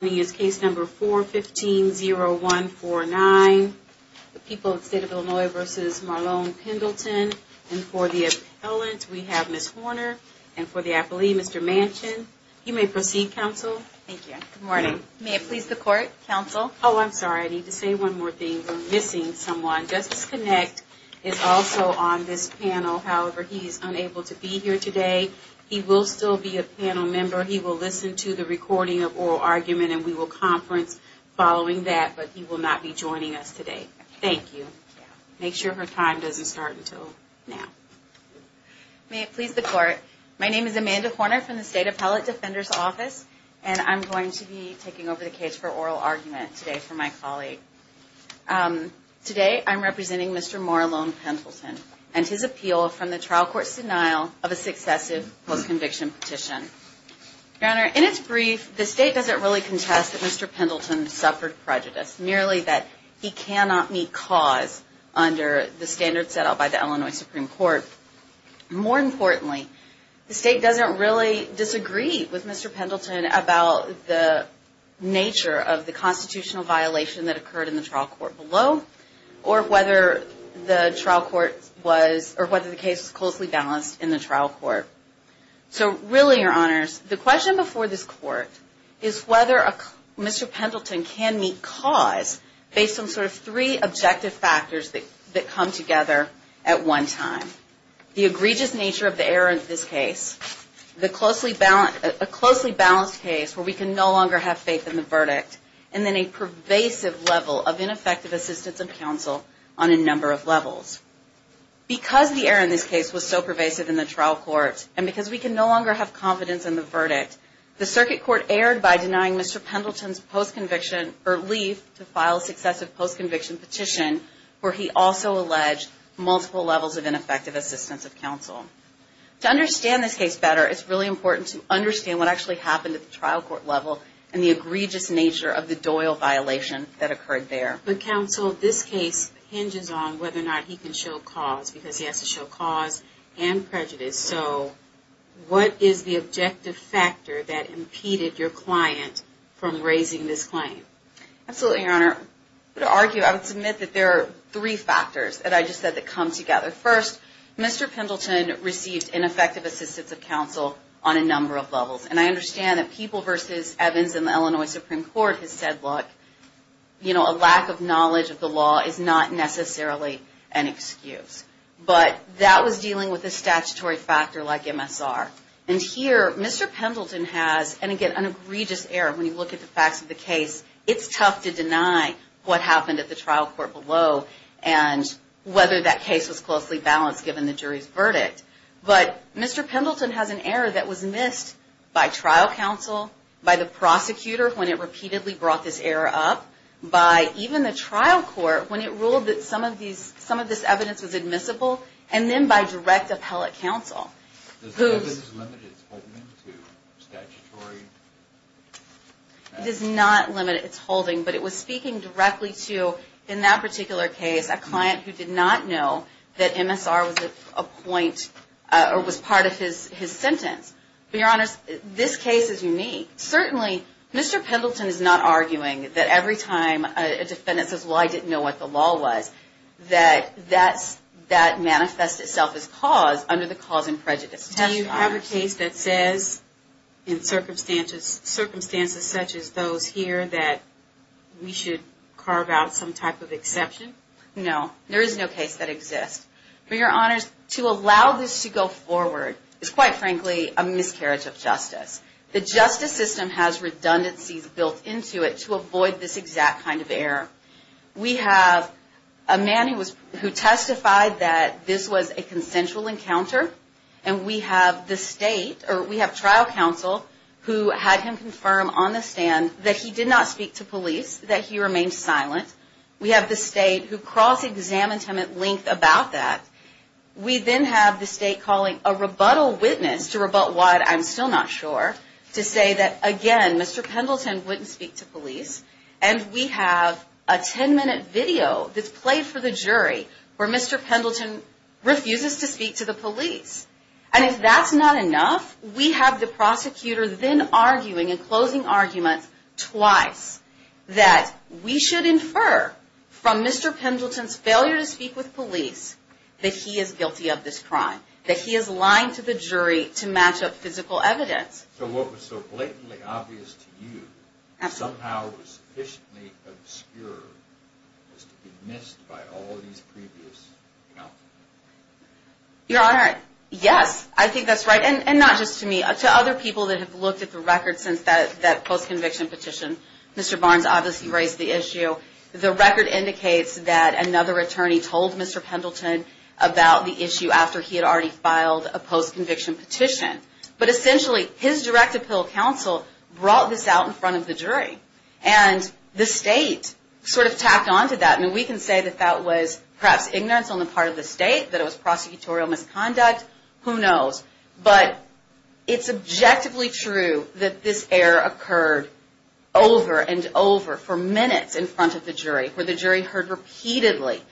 is case number 415-0149, the people of the state of Illinois v. Marlone Pendleton. And for the appellant, we have Ms. Horner. And for the appellee, Mr. Manchin. You may proceed, counsel. Thank you. Good morning. May it please the court, counsel? Oh, I'm sorry. I need to say one more thing. We're missing someone. Justice Connect is also on this panel. However, he is unable to be here today. He will still be a panel member. He will listen to the recording of oral argument. And we will conference following that. But he will not be joining us today. Thank you. Make sure her time doesn't start until now. May it please the court. My name is Amanda Horner from the State Appellate Defender's Office. And I'm going to be taking over the case for oral argument today for my colleague. Today, I'm representing Mr. Marlone Pendleton and his appeal from the trial court's denial of a successive post-conviction petition. Your Honor, in its brief, the state doesn't really contest that Mr. Pendleton suffered prejudice, merely that he cannot meet cause under the standards set out by the Illinois Supreme Court. More importantly, the state doesn't really disagree with Mr. Pendleton about the nature of the constitutional violation that occurred in the trial court below, or whether the trial court was, or whether the case was closely balanced in the trial court. So really, Your Honors, the question before this court is whether Mr. Pendleton can meet cause based on sort of three objective factors that come together at one time. The egregious nature of the error in this case, a closely balanced case where we can no longer have faith in the verdict, and then a pervasive level of ineffective assistance and counsel on a number of levels. Because the error in this case was so pervasive in the trial court, and because we can no longer have confidence in the verdict, the circuit court erred by denying Mr. Pendleton's post-conviction, or leave to file successive post-conviction petition, where he also alleged multiple levels of ineffective assistance of counsel. To understand this case better, it's really important to understand what actually happened at the trial court level, and the egregious nature of the Doyle violation that occurred there. But counsel, this case hinges on whether or not he can show cause, because he has to show cause and prejudice. So what is the objective factor that impeded your client from raising this claim? Absolutely, Your Honor. To argue, I would submit that there are three factors that I just said that come together. First, Mr. Pendleton received ineffective assistance of counsel on a number of levels. And I understand that People v. Evans in the Illinois Supreme Court has said, look, you know, a lack of knowledge of But that was dealing with a statutory factor like MSR. And here, Mr. Pendleton has, and again, an egregious error when you look at the facts of the case. It's tough to deny what happened at the trial court below, and whether that case was closely balanced given the jury's verdict. But Mr. Pendleton has an error that was admissible, and then by direct appellate counsel. Does the evidence limit its holding to statutory facts? It does not limit its holding, but it was speaking directly to, in that particular case, a client who did not know that MSR was a point, or was part of his sentence. But Your Honor, this case is unique. Certainly, Mr. Pendleton is not arguing that every time a defendant says, well, I didn't know what the law was, that that manifests itself as cause under the cause and prejudice test. Do you have a case that says, in circumstances such as those here, that we should carve out some type of exception? No. There is no case that exists. For Your Honors, to allow this to go forward is, quite frankly, a miscarriage of justice. The justice system has that this was a consensual encounter, and we have the state, or we have trial counsel, who had him confirm on the stand that he did not speak to police, that he remained silent. We have the state who cross-examined him at length about that. We then have the state calling a rebuttal witness to rebut what, I'm still not sure, to say that, again, Mr. Pendleton wouldn't speak to police. And we have a 10-minute video that's played for the jury where Mr. Pendleton refuses to speak to the police. And if that's not enough, we have the prosecutor then arguing, and closing arguments twice, that we should infer from Mr. Pendleton's that he is guilty of this crime. That he is lying to the jury to match up physical evidence. So what was so blatantly obvious to you, somehow was sufficiently obscure, was to be missed by all of these previous counsels? Your Honor, yes, I think that's right. And not just to me, to other people that have looked at the record since that post-conviction petition. Mr. Barnes obviously raised the issue. The record indicates that another attorney told Mr. Pendleton about the issue after he had already filed a post-conviction petition. But essentially, his direct appeal counsel brought this out in front of the jury. And the state sort of tacked on to that. And we can say that that was perhaps over for minutes in front of the jury, where the jury heard repeatedly,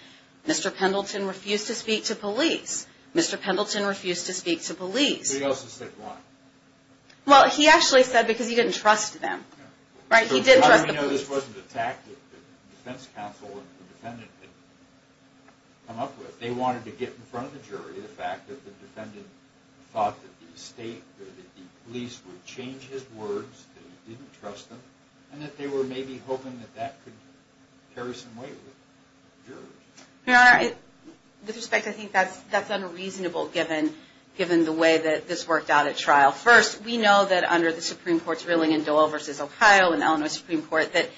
Mr. Pendleton refused to speak to police. Mr. Pendleton refused to speak to police. He also said why? Well, he actually said because he didn't trust them. Right? He didn't trust the police. So how do we know this wasn't a tactic that the defense counsel and the defendant had come up with? They wanted to get in front of the jury the fact that the defendant thought that the police would change his words, that he didn't trust them, and that they were maybe hoping that that could carry some weight with the jury. Your Honor, with respect, I think that's unreasonable given the way that this worked out at trial. First, we know that under the Supreme Court's ruling in Dole v. Ohio in the Illinois Supreme Court, that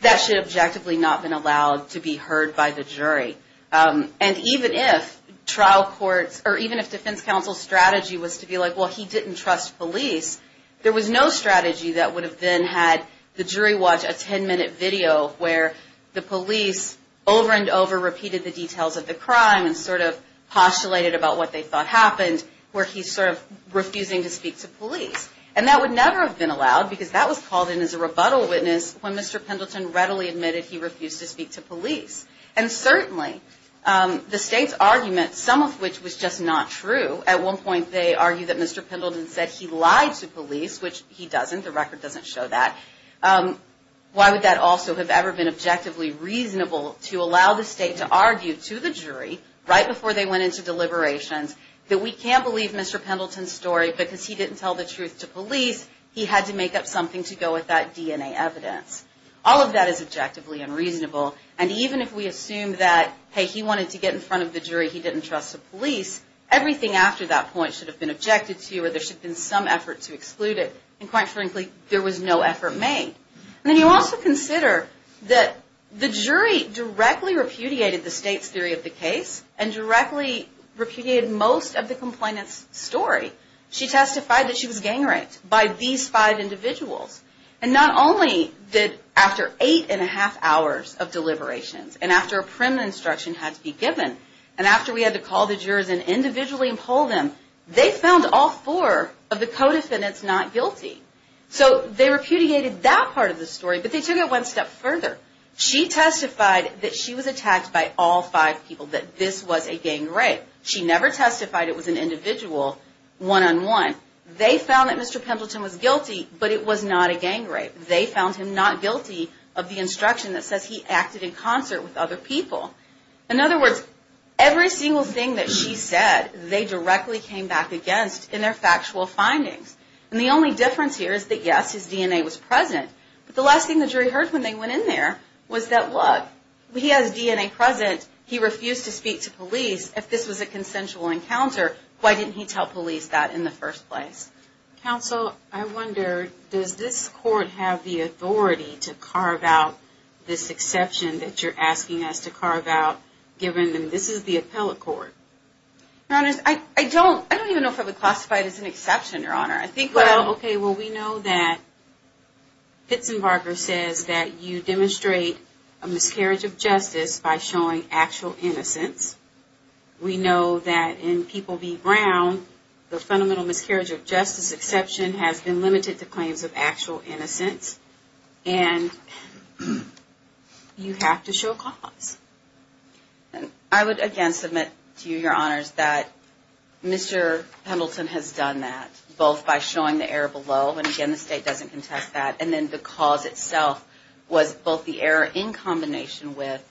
that should objectively not have been allowed to be heard by the jury. And even if trial courts, or even if defense counsel's strategy was to be like, well, he didn't trust police, there was no strategy that would have then had the jury watch a 10-minute video where the police over and over repeated the details of the crime and sort of postulated about what they thought happened, where he's sort of refusing to speak to police. And that would never have been allowed because that was called in as a rebuttal witness when Mr. Pendleton readily admitted he refused to speak to police. And certainly, the state's argument, some of which was just not true, at one point they argued that Mr. Pendleton said he lied to police, which he doesn't. The record doesn't show that. Why would that also have ever been objectively reasonable to allow the state to argue to the jury, right before they went into deliberations, that we can't believe Mr. Pendleton's story because he didn't tell the truth to police, he had to make up something to go with that DNA evidence. All of that is objectively unreasonable. And even if we assume that, hey, he wanted to get in front of the jury, he didn't trust the police, everything after that point should have been objected to or there should have been some effort to exclude it. And quite frankly, there was no effort made. And then you also consider that the jury directly repudiated the state's theory of the case and directly repudiated most of the complainant's story. She testified that she was gang raped by these five individuals. And not only did, after eight and a half hours of deliberations, and after a prim instruction had to be given, and after we had to call the jurors in individually and poll them, they found all four of the co-defendants not guilty. So they repudiated that part of the story, but they took it one step further. She testified that she was attacked by all five people, that this was a gang rape. She never testified it was an individual one-on-one. They found that Mr. Pendleton was guilty, but it was not a gang rape. They found him not guilty of the instruction that says he acted in concert with other people. In other words, every single thing that she said, they directly came back against in their factual findings. And the only difference here is that, yes, his DNA was present. But the last thing the jury heard when they went in there was that, look, he has DNA present. He refused to speak to police if this was a consensual encounter. Why didn't he tell police that in the first place? Counsel, I wonder, does this court have the authority to carve out this exception that you're asking us to carve out, given that this is the appellate court? Your Honor, I don't even know if I would classify it as an exception, Your Honor. Well, okay, we know that Pitsenbarger says that you demonstrate a miscarriage of justice by showing actual innocence. We know that in People v. Brown, the fundamental miscarriage of justice exception has been limited to claims of actual innocence. And you have to show cause. And I would again submit to you, Your Honors, that Mr. Pendleton has done that, both by showing the error below, and again, the state doesn't contest that, and then the cause itself was both the error in combination with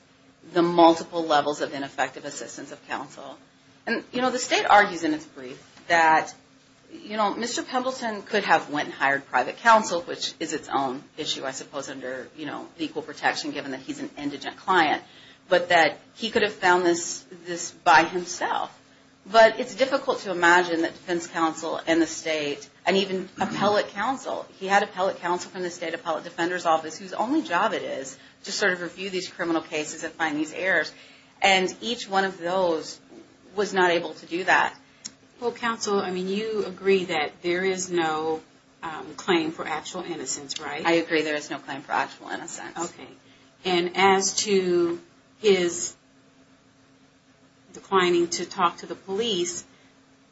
the multiple levels of ineffective assistance of counsel. And, you know, the state argues in its brief that, you know, Mr. Pendleton could have went and hired private counsel, which is its own issue, I suppose, under, you know, the equal protection, given that he's an indigent client, but that he could have found this by himself. But it's difficult to imagine that defense counsel in the state, and even appellate counsel, he had appellate counsel from the State Appellate Defender's Office, whose only job it is to sort of review these criminal cases and find these errors, and each one of those was not able to do that. Well, counsel, I mean, you agree that there is no claim for actual innocence, right? I agree there is no claim for actual innocence. Okay. And as to his declining to talk to the police,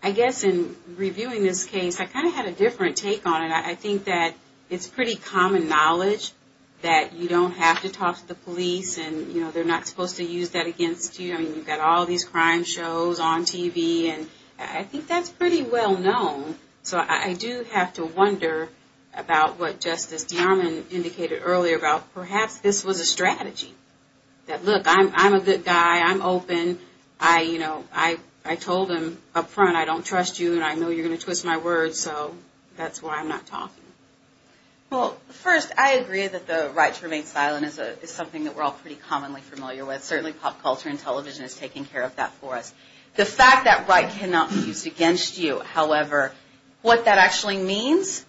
I guess in reviewing this case, I kind of had a different take on it. I think that it's pretty common knowledge that you don't have to talk to the police, and, you know, they're not supposed to use that against you. I mean, you've got all these crime shows on TV, and I think that's pretty well known. So I do have to wonder about what Justice DeArmond indicated earlier about perhaps this was a strategy, that, look, I'm a good guy, I'm open, I, you know, I told him up front, I don't trust you, and I know you're going to twist my words, so that's why I'm not talking. Well, first, I agree that the right to remain silent is something that we're all pretty commonly familiar with. Certainly, pop culture and television is taking care of that for us. The fact that right cannot be used against you, however, what that actually means,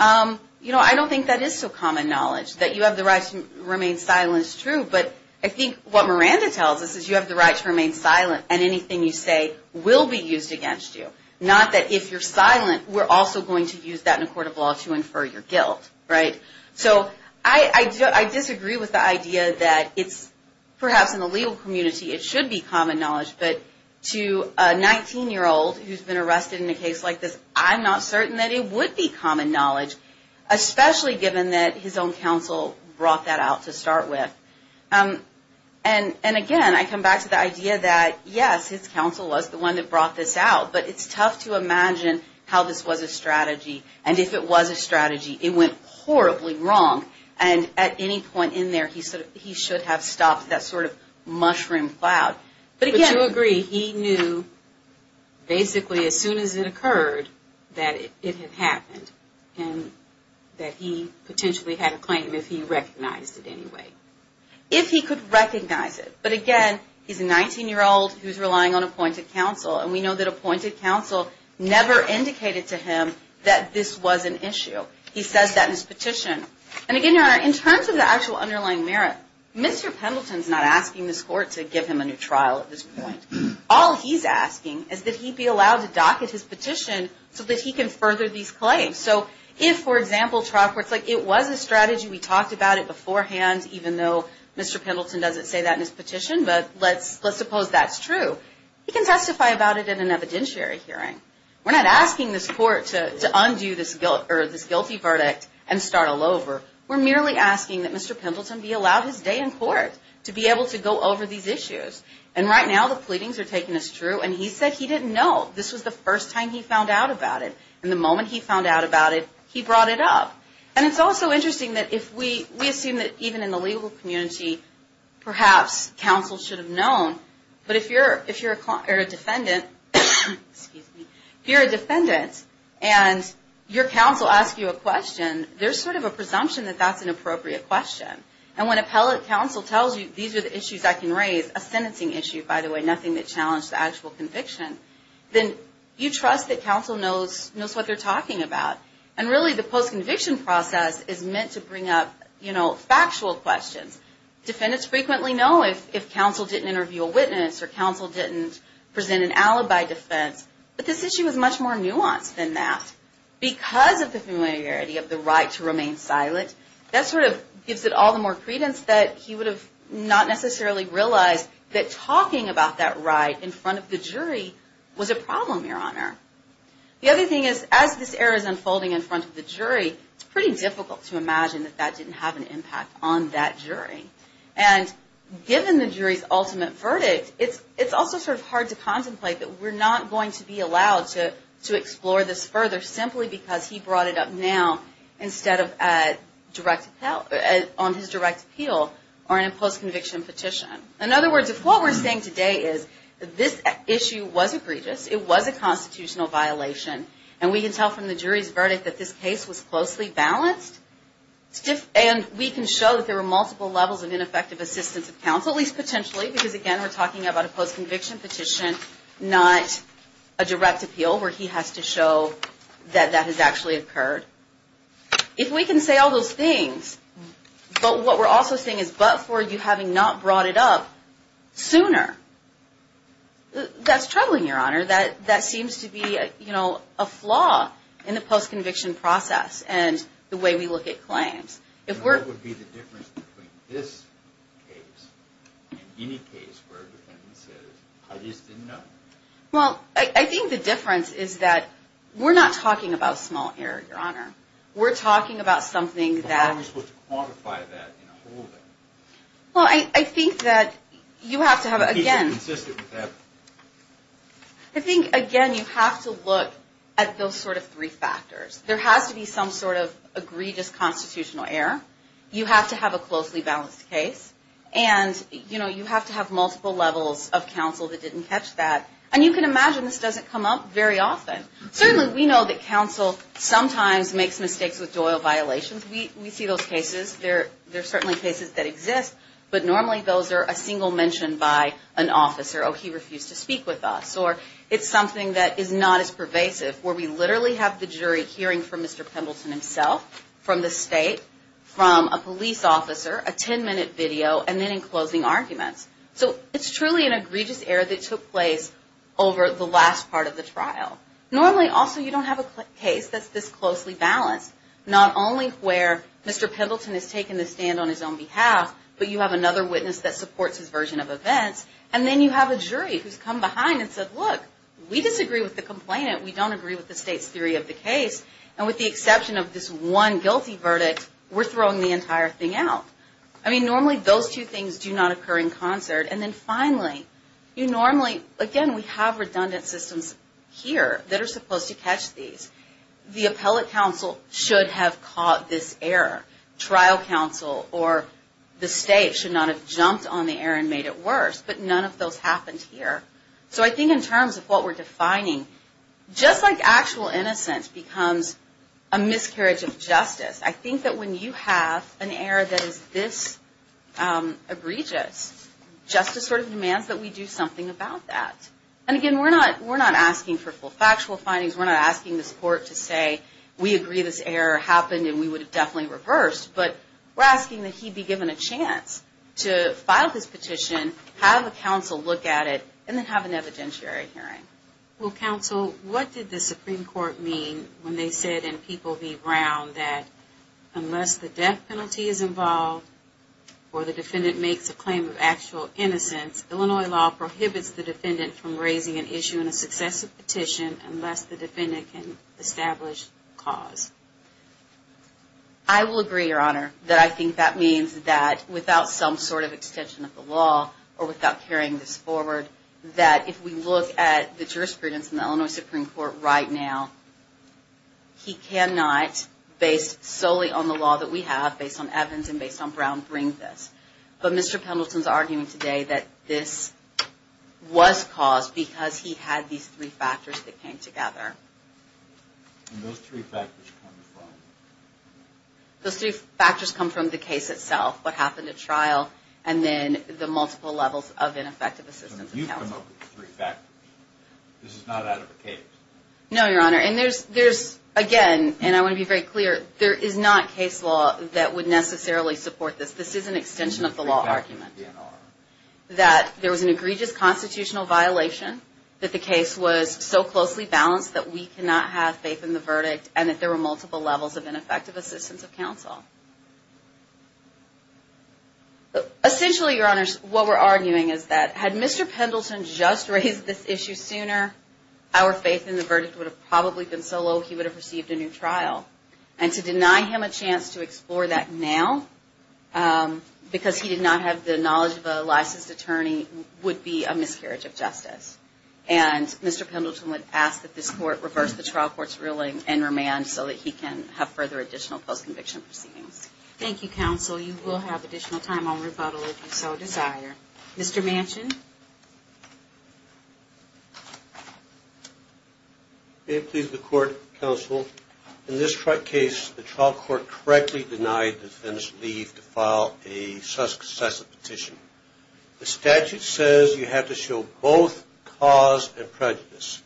you know, I don't think that is so common knowledge, that you have the right to remain silent is true. But I think what Miranda tells us is you have the right to remain silent, and anything you say will be used against you. Not that if you're silent, we're also going to use that in a court of law to infer your guilt, right? So I disagree with the idea that it's perhaps in the legal community it should be common knowledge, but to a 19-year-old who's been arrested in a case like this, I'm not certain that it would be common knowledge, especially given that his own counsel brought that out to start with. And again, I come back to the idea that yes, his counsel was the one that brought this out, but it's tough to imagine how this was a strategy, and if it was a strategy, it went horribly wrong, and at any point in there, he should have stopped that sort of mushroom cloud. But to agree, he knew basically as soon as it occurred that it had happened, and that he potentially had a claim if he recognized it anyway. If he could recognize it, but again, he's a 19-year-old who's relying on appointed counsel, and we know that appointed counsel never indicated to him that this was an issue. He says that in his petition. And again, Your Honor, in terms of the actual underlying merit, Mr. Pendleton's not asking this court to give him a new trial at this point. All he's asking is that he be allowed to docket his petition so that he can further these claims. So if, for example, trial court's like, it was a strategy, we talked about it beforehand, even though Mr. Pendleton doesn't say that in his petition, but let's suppose that's true. He can testify about it in an evidentiary hearing. We're not asking this court to undo this guilty verdict and start all over. We're merely asking that Mr. Pendleton be allowed his day in court to be able to go over these issues. And right now, the pleadings are taking this true, and he said he didn't know. This was the first time he found out about it, and the moment he found out about it, he brought it up. And it's also interesting that if we assume that even in the legal community, perhaps counsel should have known. But if you're a defendant, and your counsel asks you a question, there's sort of a presumption that that's an appropriate question. And when appellate counsel tells you, these are the issues I can raise, a sentencing issue, by the way, nothing that challenged the actual conviction, then you trust that counsel knows what they're talking about. And really, the post-conviction process is meant to bring up factual questions. Defendants frequently know if counsel didn't interview a witness, or counsel didn't present an alibi defense. But this issue is much more nuanced than that. Because of the familiarity of the right to remain silent, that sort of gives it all the more credence that he would have not necessarily realized that talking about that right in front of the jury was a problem, Your Honor. The other thing is, as this error is unfolding in front of the jury, it's pretty difficult to imagine that that didn't have an impact on that jury. And given the jury's ultimate verdict, it's also sort of hard to contemplate that we're not going to be allowed to explore this further, simply because he brought it up now, instead of on his direct appeal, or in a post-conviction petition. In other words, if what we're saying today is that this issue was egregious, it was a constitutional violation, and we can tell from the jury's verdict that this case was closely balanced, and we can show that there were multiple levels of ineffective assistance of counsel, at least potentially, because again, we're talking about a post-conviction petition, not a direct appeal where he has to show that that has actually occurred. If we can say all those things, but what we're also saying is, but for you having not brought it up sooner, that's troubling, Your Honor. That seems to be a flaw in the post-conviction process and the way we look at claims. What would be the difference between this case and any case where a defendant says, I just didn't know? Well, I think the difference is that we're not talking about small error, Your Honor. We're talking about something that... How are we supposed to quantify that in a whole? Well, I think that you have to have, again... Is it consistent with that? I think, again, you have to look at those sort of three factors. There has to be some sort of egregious constitutional error. You have to have a closely balanced case. And you have to have multiple levels of counsel that didn't catch that. And you can imagine this doesn't come up very often. Certainly, we know that counsel sometimes makes mistakes with doyle violations. We see those cases. They're certainly cases that exist, but normally those are a single mention by an officer. Oh, he refused to speak with us. Or it's something that is not as pervasive, where we literally have the jury hearing from Mr. Pendleton himself, from the state, from a police officer, a 10-minute video, and then in closing arguments. So it's truly an egregious error that took place over the last part of the trial. Normally, also, you don't have a case that's this closely balanced. Not only where Mr. Pendleton has taken the stand on his own behalf, but you have another witness that supports his version of events. And then you have a jury who's come behind and said, Look, we disagree with the complainant. We don't agree with the state's theory of the case. And with the exception of this one guilty verdict, we're throwing the entire thing out. I mean, normally those two things do not occur in concert. And then finally, you normally, again, we have redundant systems here that are supposed to catch these. The appellate counsel should have caught this error. Trial counsel or the state should not have jumped on the error and made it worse. But none of those happened here. So I think in terms of what we're defining, just like actual innocence becomes a miscarriage of justice, I think that when you have an error that is this egregious, justice sort of demands that we do something about that. And again, we're not asking for full factual findings. We're not asking this court to say, We agree this error happened and we would have definitely reversed. But we're asking that he be given a chance to file this petition, have a counsel look at it, and then have an evidentiary hearing. Well, counsel, what did the Supreme Court mean when they said in People v. Brown that unless the death penalty is involved or the defendant makes a claim of actual innocence, Illinois law prohibits the defendant from raising an issue in a successive petition unless the defendant can establish cause? I will agree, Your Honor, that I think that means that without some sort of extension of the law or without carrying this forward, that if we look at the jurisprudence in the Illinois Supreme Court right now, he cannot, based solely on the law that we have, based on Evans and based on Brown, bring this. But Mr. Pendleton's arguing today that this was caused because he had these three factors that came together. And those three factors come from? Those three factors come from the case itself, what happened at trial, and then the multiple levels of ineffective assistance of counsel. So you come up with the three factors. This is not out of a case. No, Your Honor, and there's, again, and I want to be very clear, there is not case law that would necessarily support this. This is an extension of the law argument. That there was an egregious constitutional violation, that the case was so closely balanced that we cannot have faith in the verdict, and that there were multiple levels of ineffective assistance of counsel. Essentially, Your Honor, what we're arguing is that had Mr. Pendleton just raised this issue sooner, our faith in the verdict would have probably been so low he would have received a new trial. And to deny him a chance to explore that now, because he did not have the knowledge of a licensed attorney, would be a miscarriage of justice. And Mr. Pendleton would ask that this Court reverse the trial court's ruling and remand so that he can have further additional post-conviction proceedings. Thank you, counsel. You will have additional time on rebuttal if you so desire. Mr. Manchin? May it please the Court, counsel. In this case, the trial court correctly denied the defendant's leave to file a successive petition. The statute says you have to show both cause and prejudice.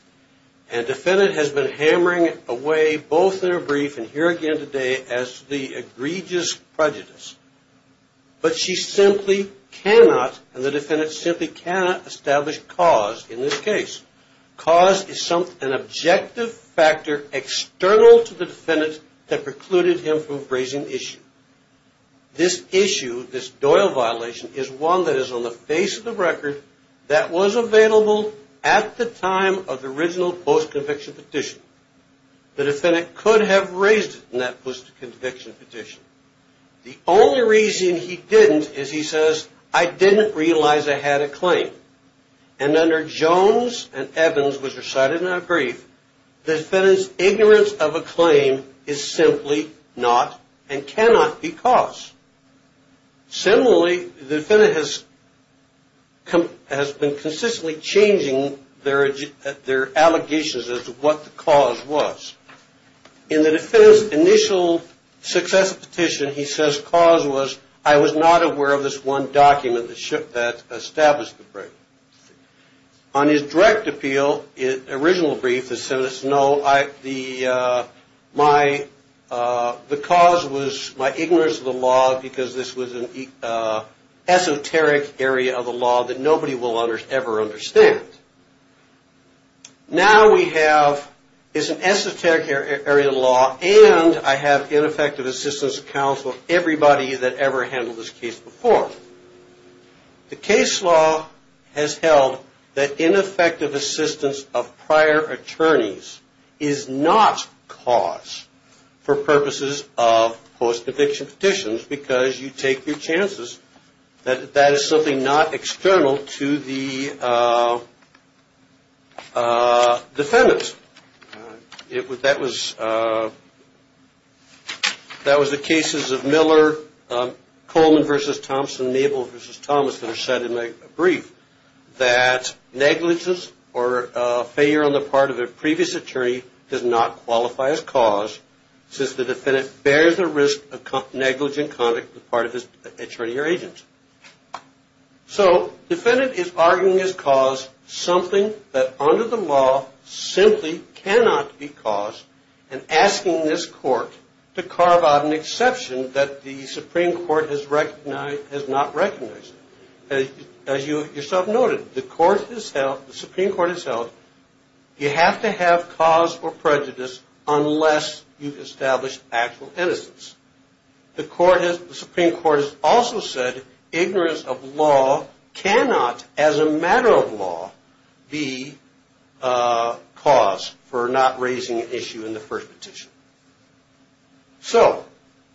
And the defendant has been hammering away both in her brief and here again today as the egregious prejudice. But she simply cannot, and the defendant simply cannot, establish cause in this case. Cause is an objective factor external to the defendant that precluded him from raising the issue. This issue, this Doyle violation, is one that is on the face of the record that was available at the time of the original post-conviction petition. The defendant could have raised it in that post-conviction petition. The only reason he didn't is he says, I didn't realize I had a claim. And under Jones and Evans, which are cited in her brief, the defendant's ignorance of a claim is simply not and cannot be caused. Similarly, the defendant has been consistently changing their allegations as to what the cause was. In the defendant's initial successive petition, he says cause was, I was not aware of this one document that established the break. On his direct appeal, original brief, the cause was my ignorance of the law because this was an esoteric area of the law that nobody will ever understand. Now we have, it's an esoteric area of the law, and I have ineffective assistance of counsel of everybody that ever handled this case before. The case law has held that ineffective assistance of prior attorneys is not cause for purposes of post-conviction petitions because you take your chances. That is something not external to the defendant. That was the cases of Miller-Coleman v. Thompson, Mabel v. Thomas that are cited in my brief, that negligence or failure on the part of a previous attorney does not qualify as cause since the defendant bears the risk of negligent conduct on the part of his attorney or agent. So defendant is arguing as cause something that under the law simply cannot be cause and asking this court to carve out an exception that the Supreme Court has not recognized. As you yourself noted, the Supreme Court has held You have to have cause or prejudice unless you've established actual innocence. The Supreme Court has also said ignorance of law cannot, as a matter of law, be cause for not raising an issue in the first petition. So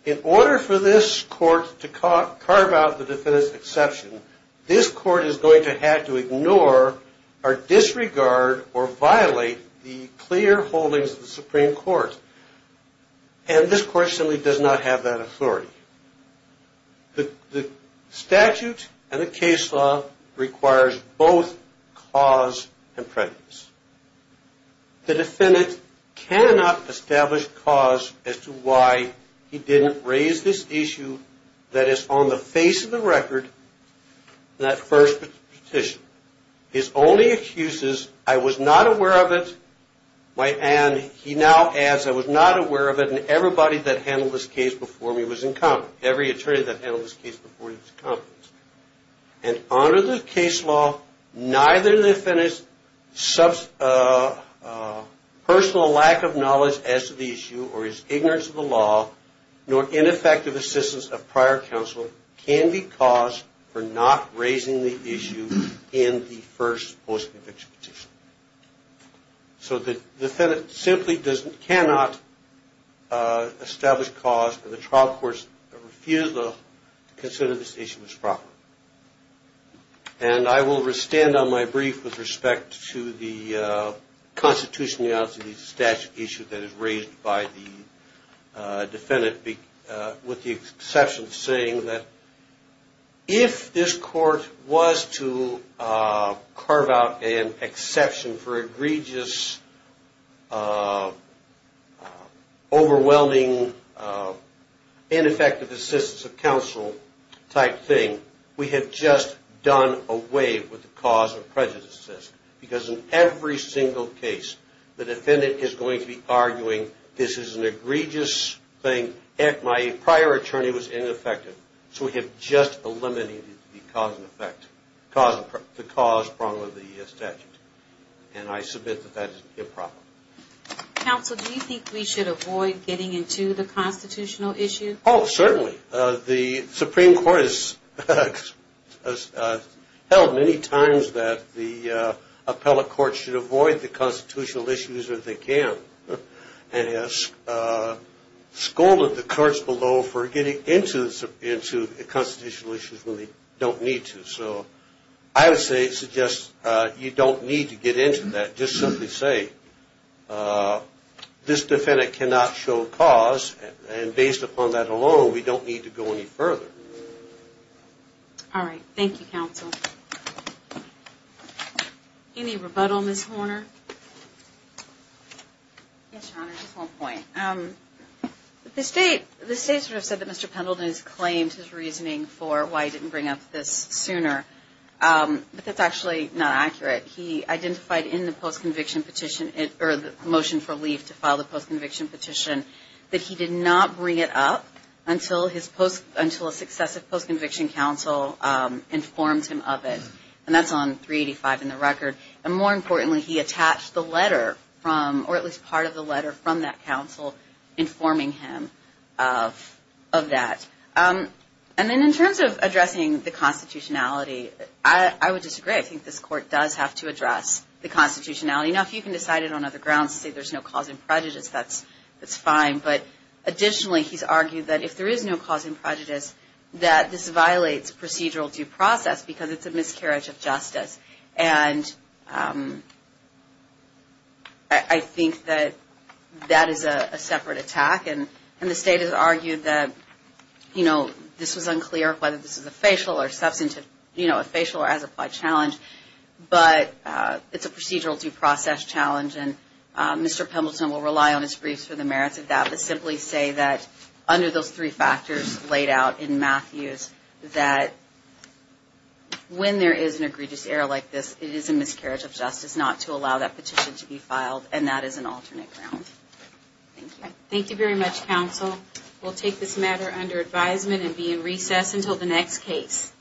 in order for this court to carve out the defendant's exception, this court is going to have to ignore or disregard or violate the clear holdings of the Supreme Court. And this court simply does not have that authority. The statute and the case law requires both cause and prejudice. The defendant cannot establish cause as to why he didn't raise this issue that is on the face of the record in that first petition. His only excuse is, I was not aware of it. And he now adds, I was not aware of it and everybody that handled this case before me was incompetent. Every attorney that handled this case before me was incompetent. And under the case law, neither the defendant's personal lack of knowledge as to the issue or his ignorance of the law nor ineffective assistance of prior counsel can be cause for not raising the issue in the first post-conviction petition. So the defendant simply cannot establish cause for the trial court's refusal to consider this issue as proper. And I will stand on my brief with respect to the constitutionality of the statute issue that is raised by the defendant with the exception of saying that if this court was to carve out an exception for egregious, overwhelming, ineffective assistance of counsel type thing, we have just done away with the cause of prejudice. Because in every single case, the defendant is going to be arguing, this is an egregious thing, my prior attorney was ineffective, so we have just eliminated the cause prong of the statute. And I submit that that is improper. Counsel, do you think we should avoid getting into the constitutional issue? Oh, certainly. The Supreme Court has held many times that the appellate court should avoid the constitutional issues if they can. And has scolded the courts below for getting into the constitutional issues when they don't need to. So I would suggest you don't need to get into that. Just simply say, this defendant cannot show cause, and based upon that alone, we don't need to go any further. All right. Thank you, counsel. Any rebuttal, Ms. Horner? Yes, Your Honor, just one point. The state sort of said that Mr. Pendleton has claimed his reasoning for why he didn't bring up this sooner. But that's actually not accurate. He identified in the post-conviction petition, or the motion for leave to file the post-conviction petition, that he did not bring it up until a successive post-conviction counsel informed him of it. And that's on 385 in the record. And more importantly, he attached the letter from, or at least part of the letter from that counsel, informing him of that. And then in terms of addressing the constitutionality, I would disagree. I think this court does have to address the constitutionality. Now, if you can decide it on other grounds, say there's no cause in prejudice, that's fine. But additionally, he's argued that if there is no cause in prejudice, that this violates procedural due process because it's a miscarriage of justice. And I think that that is a separate attack. And the state has argued that, you know, this was unclear whether this is a facial or substantive, you know, a facial or as-applied challenge, but it's a procedural due process challenge. And Mr. Pendleton will rely on his briefs for the merits of that, under those three factors laid out in Matthews, that when there is an egregious error like this, it is a miscarriage of justice not to allow that petition to be filed, and that is an alternate ground. Thank you. Thank you very much, counsel. We'll take this matter under advisement and be in recess until the next case.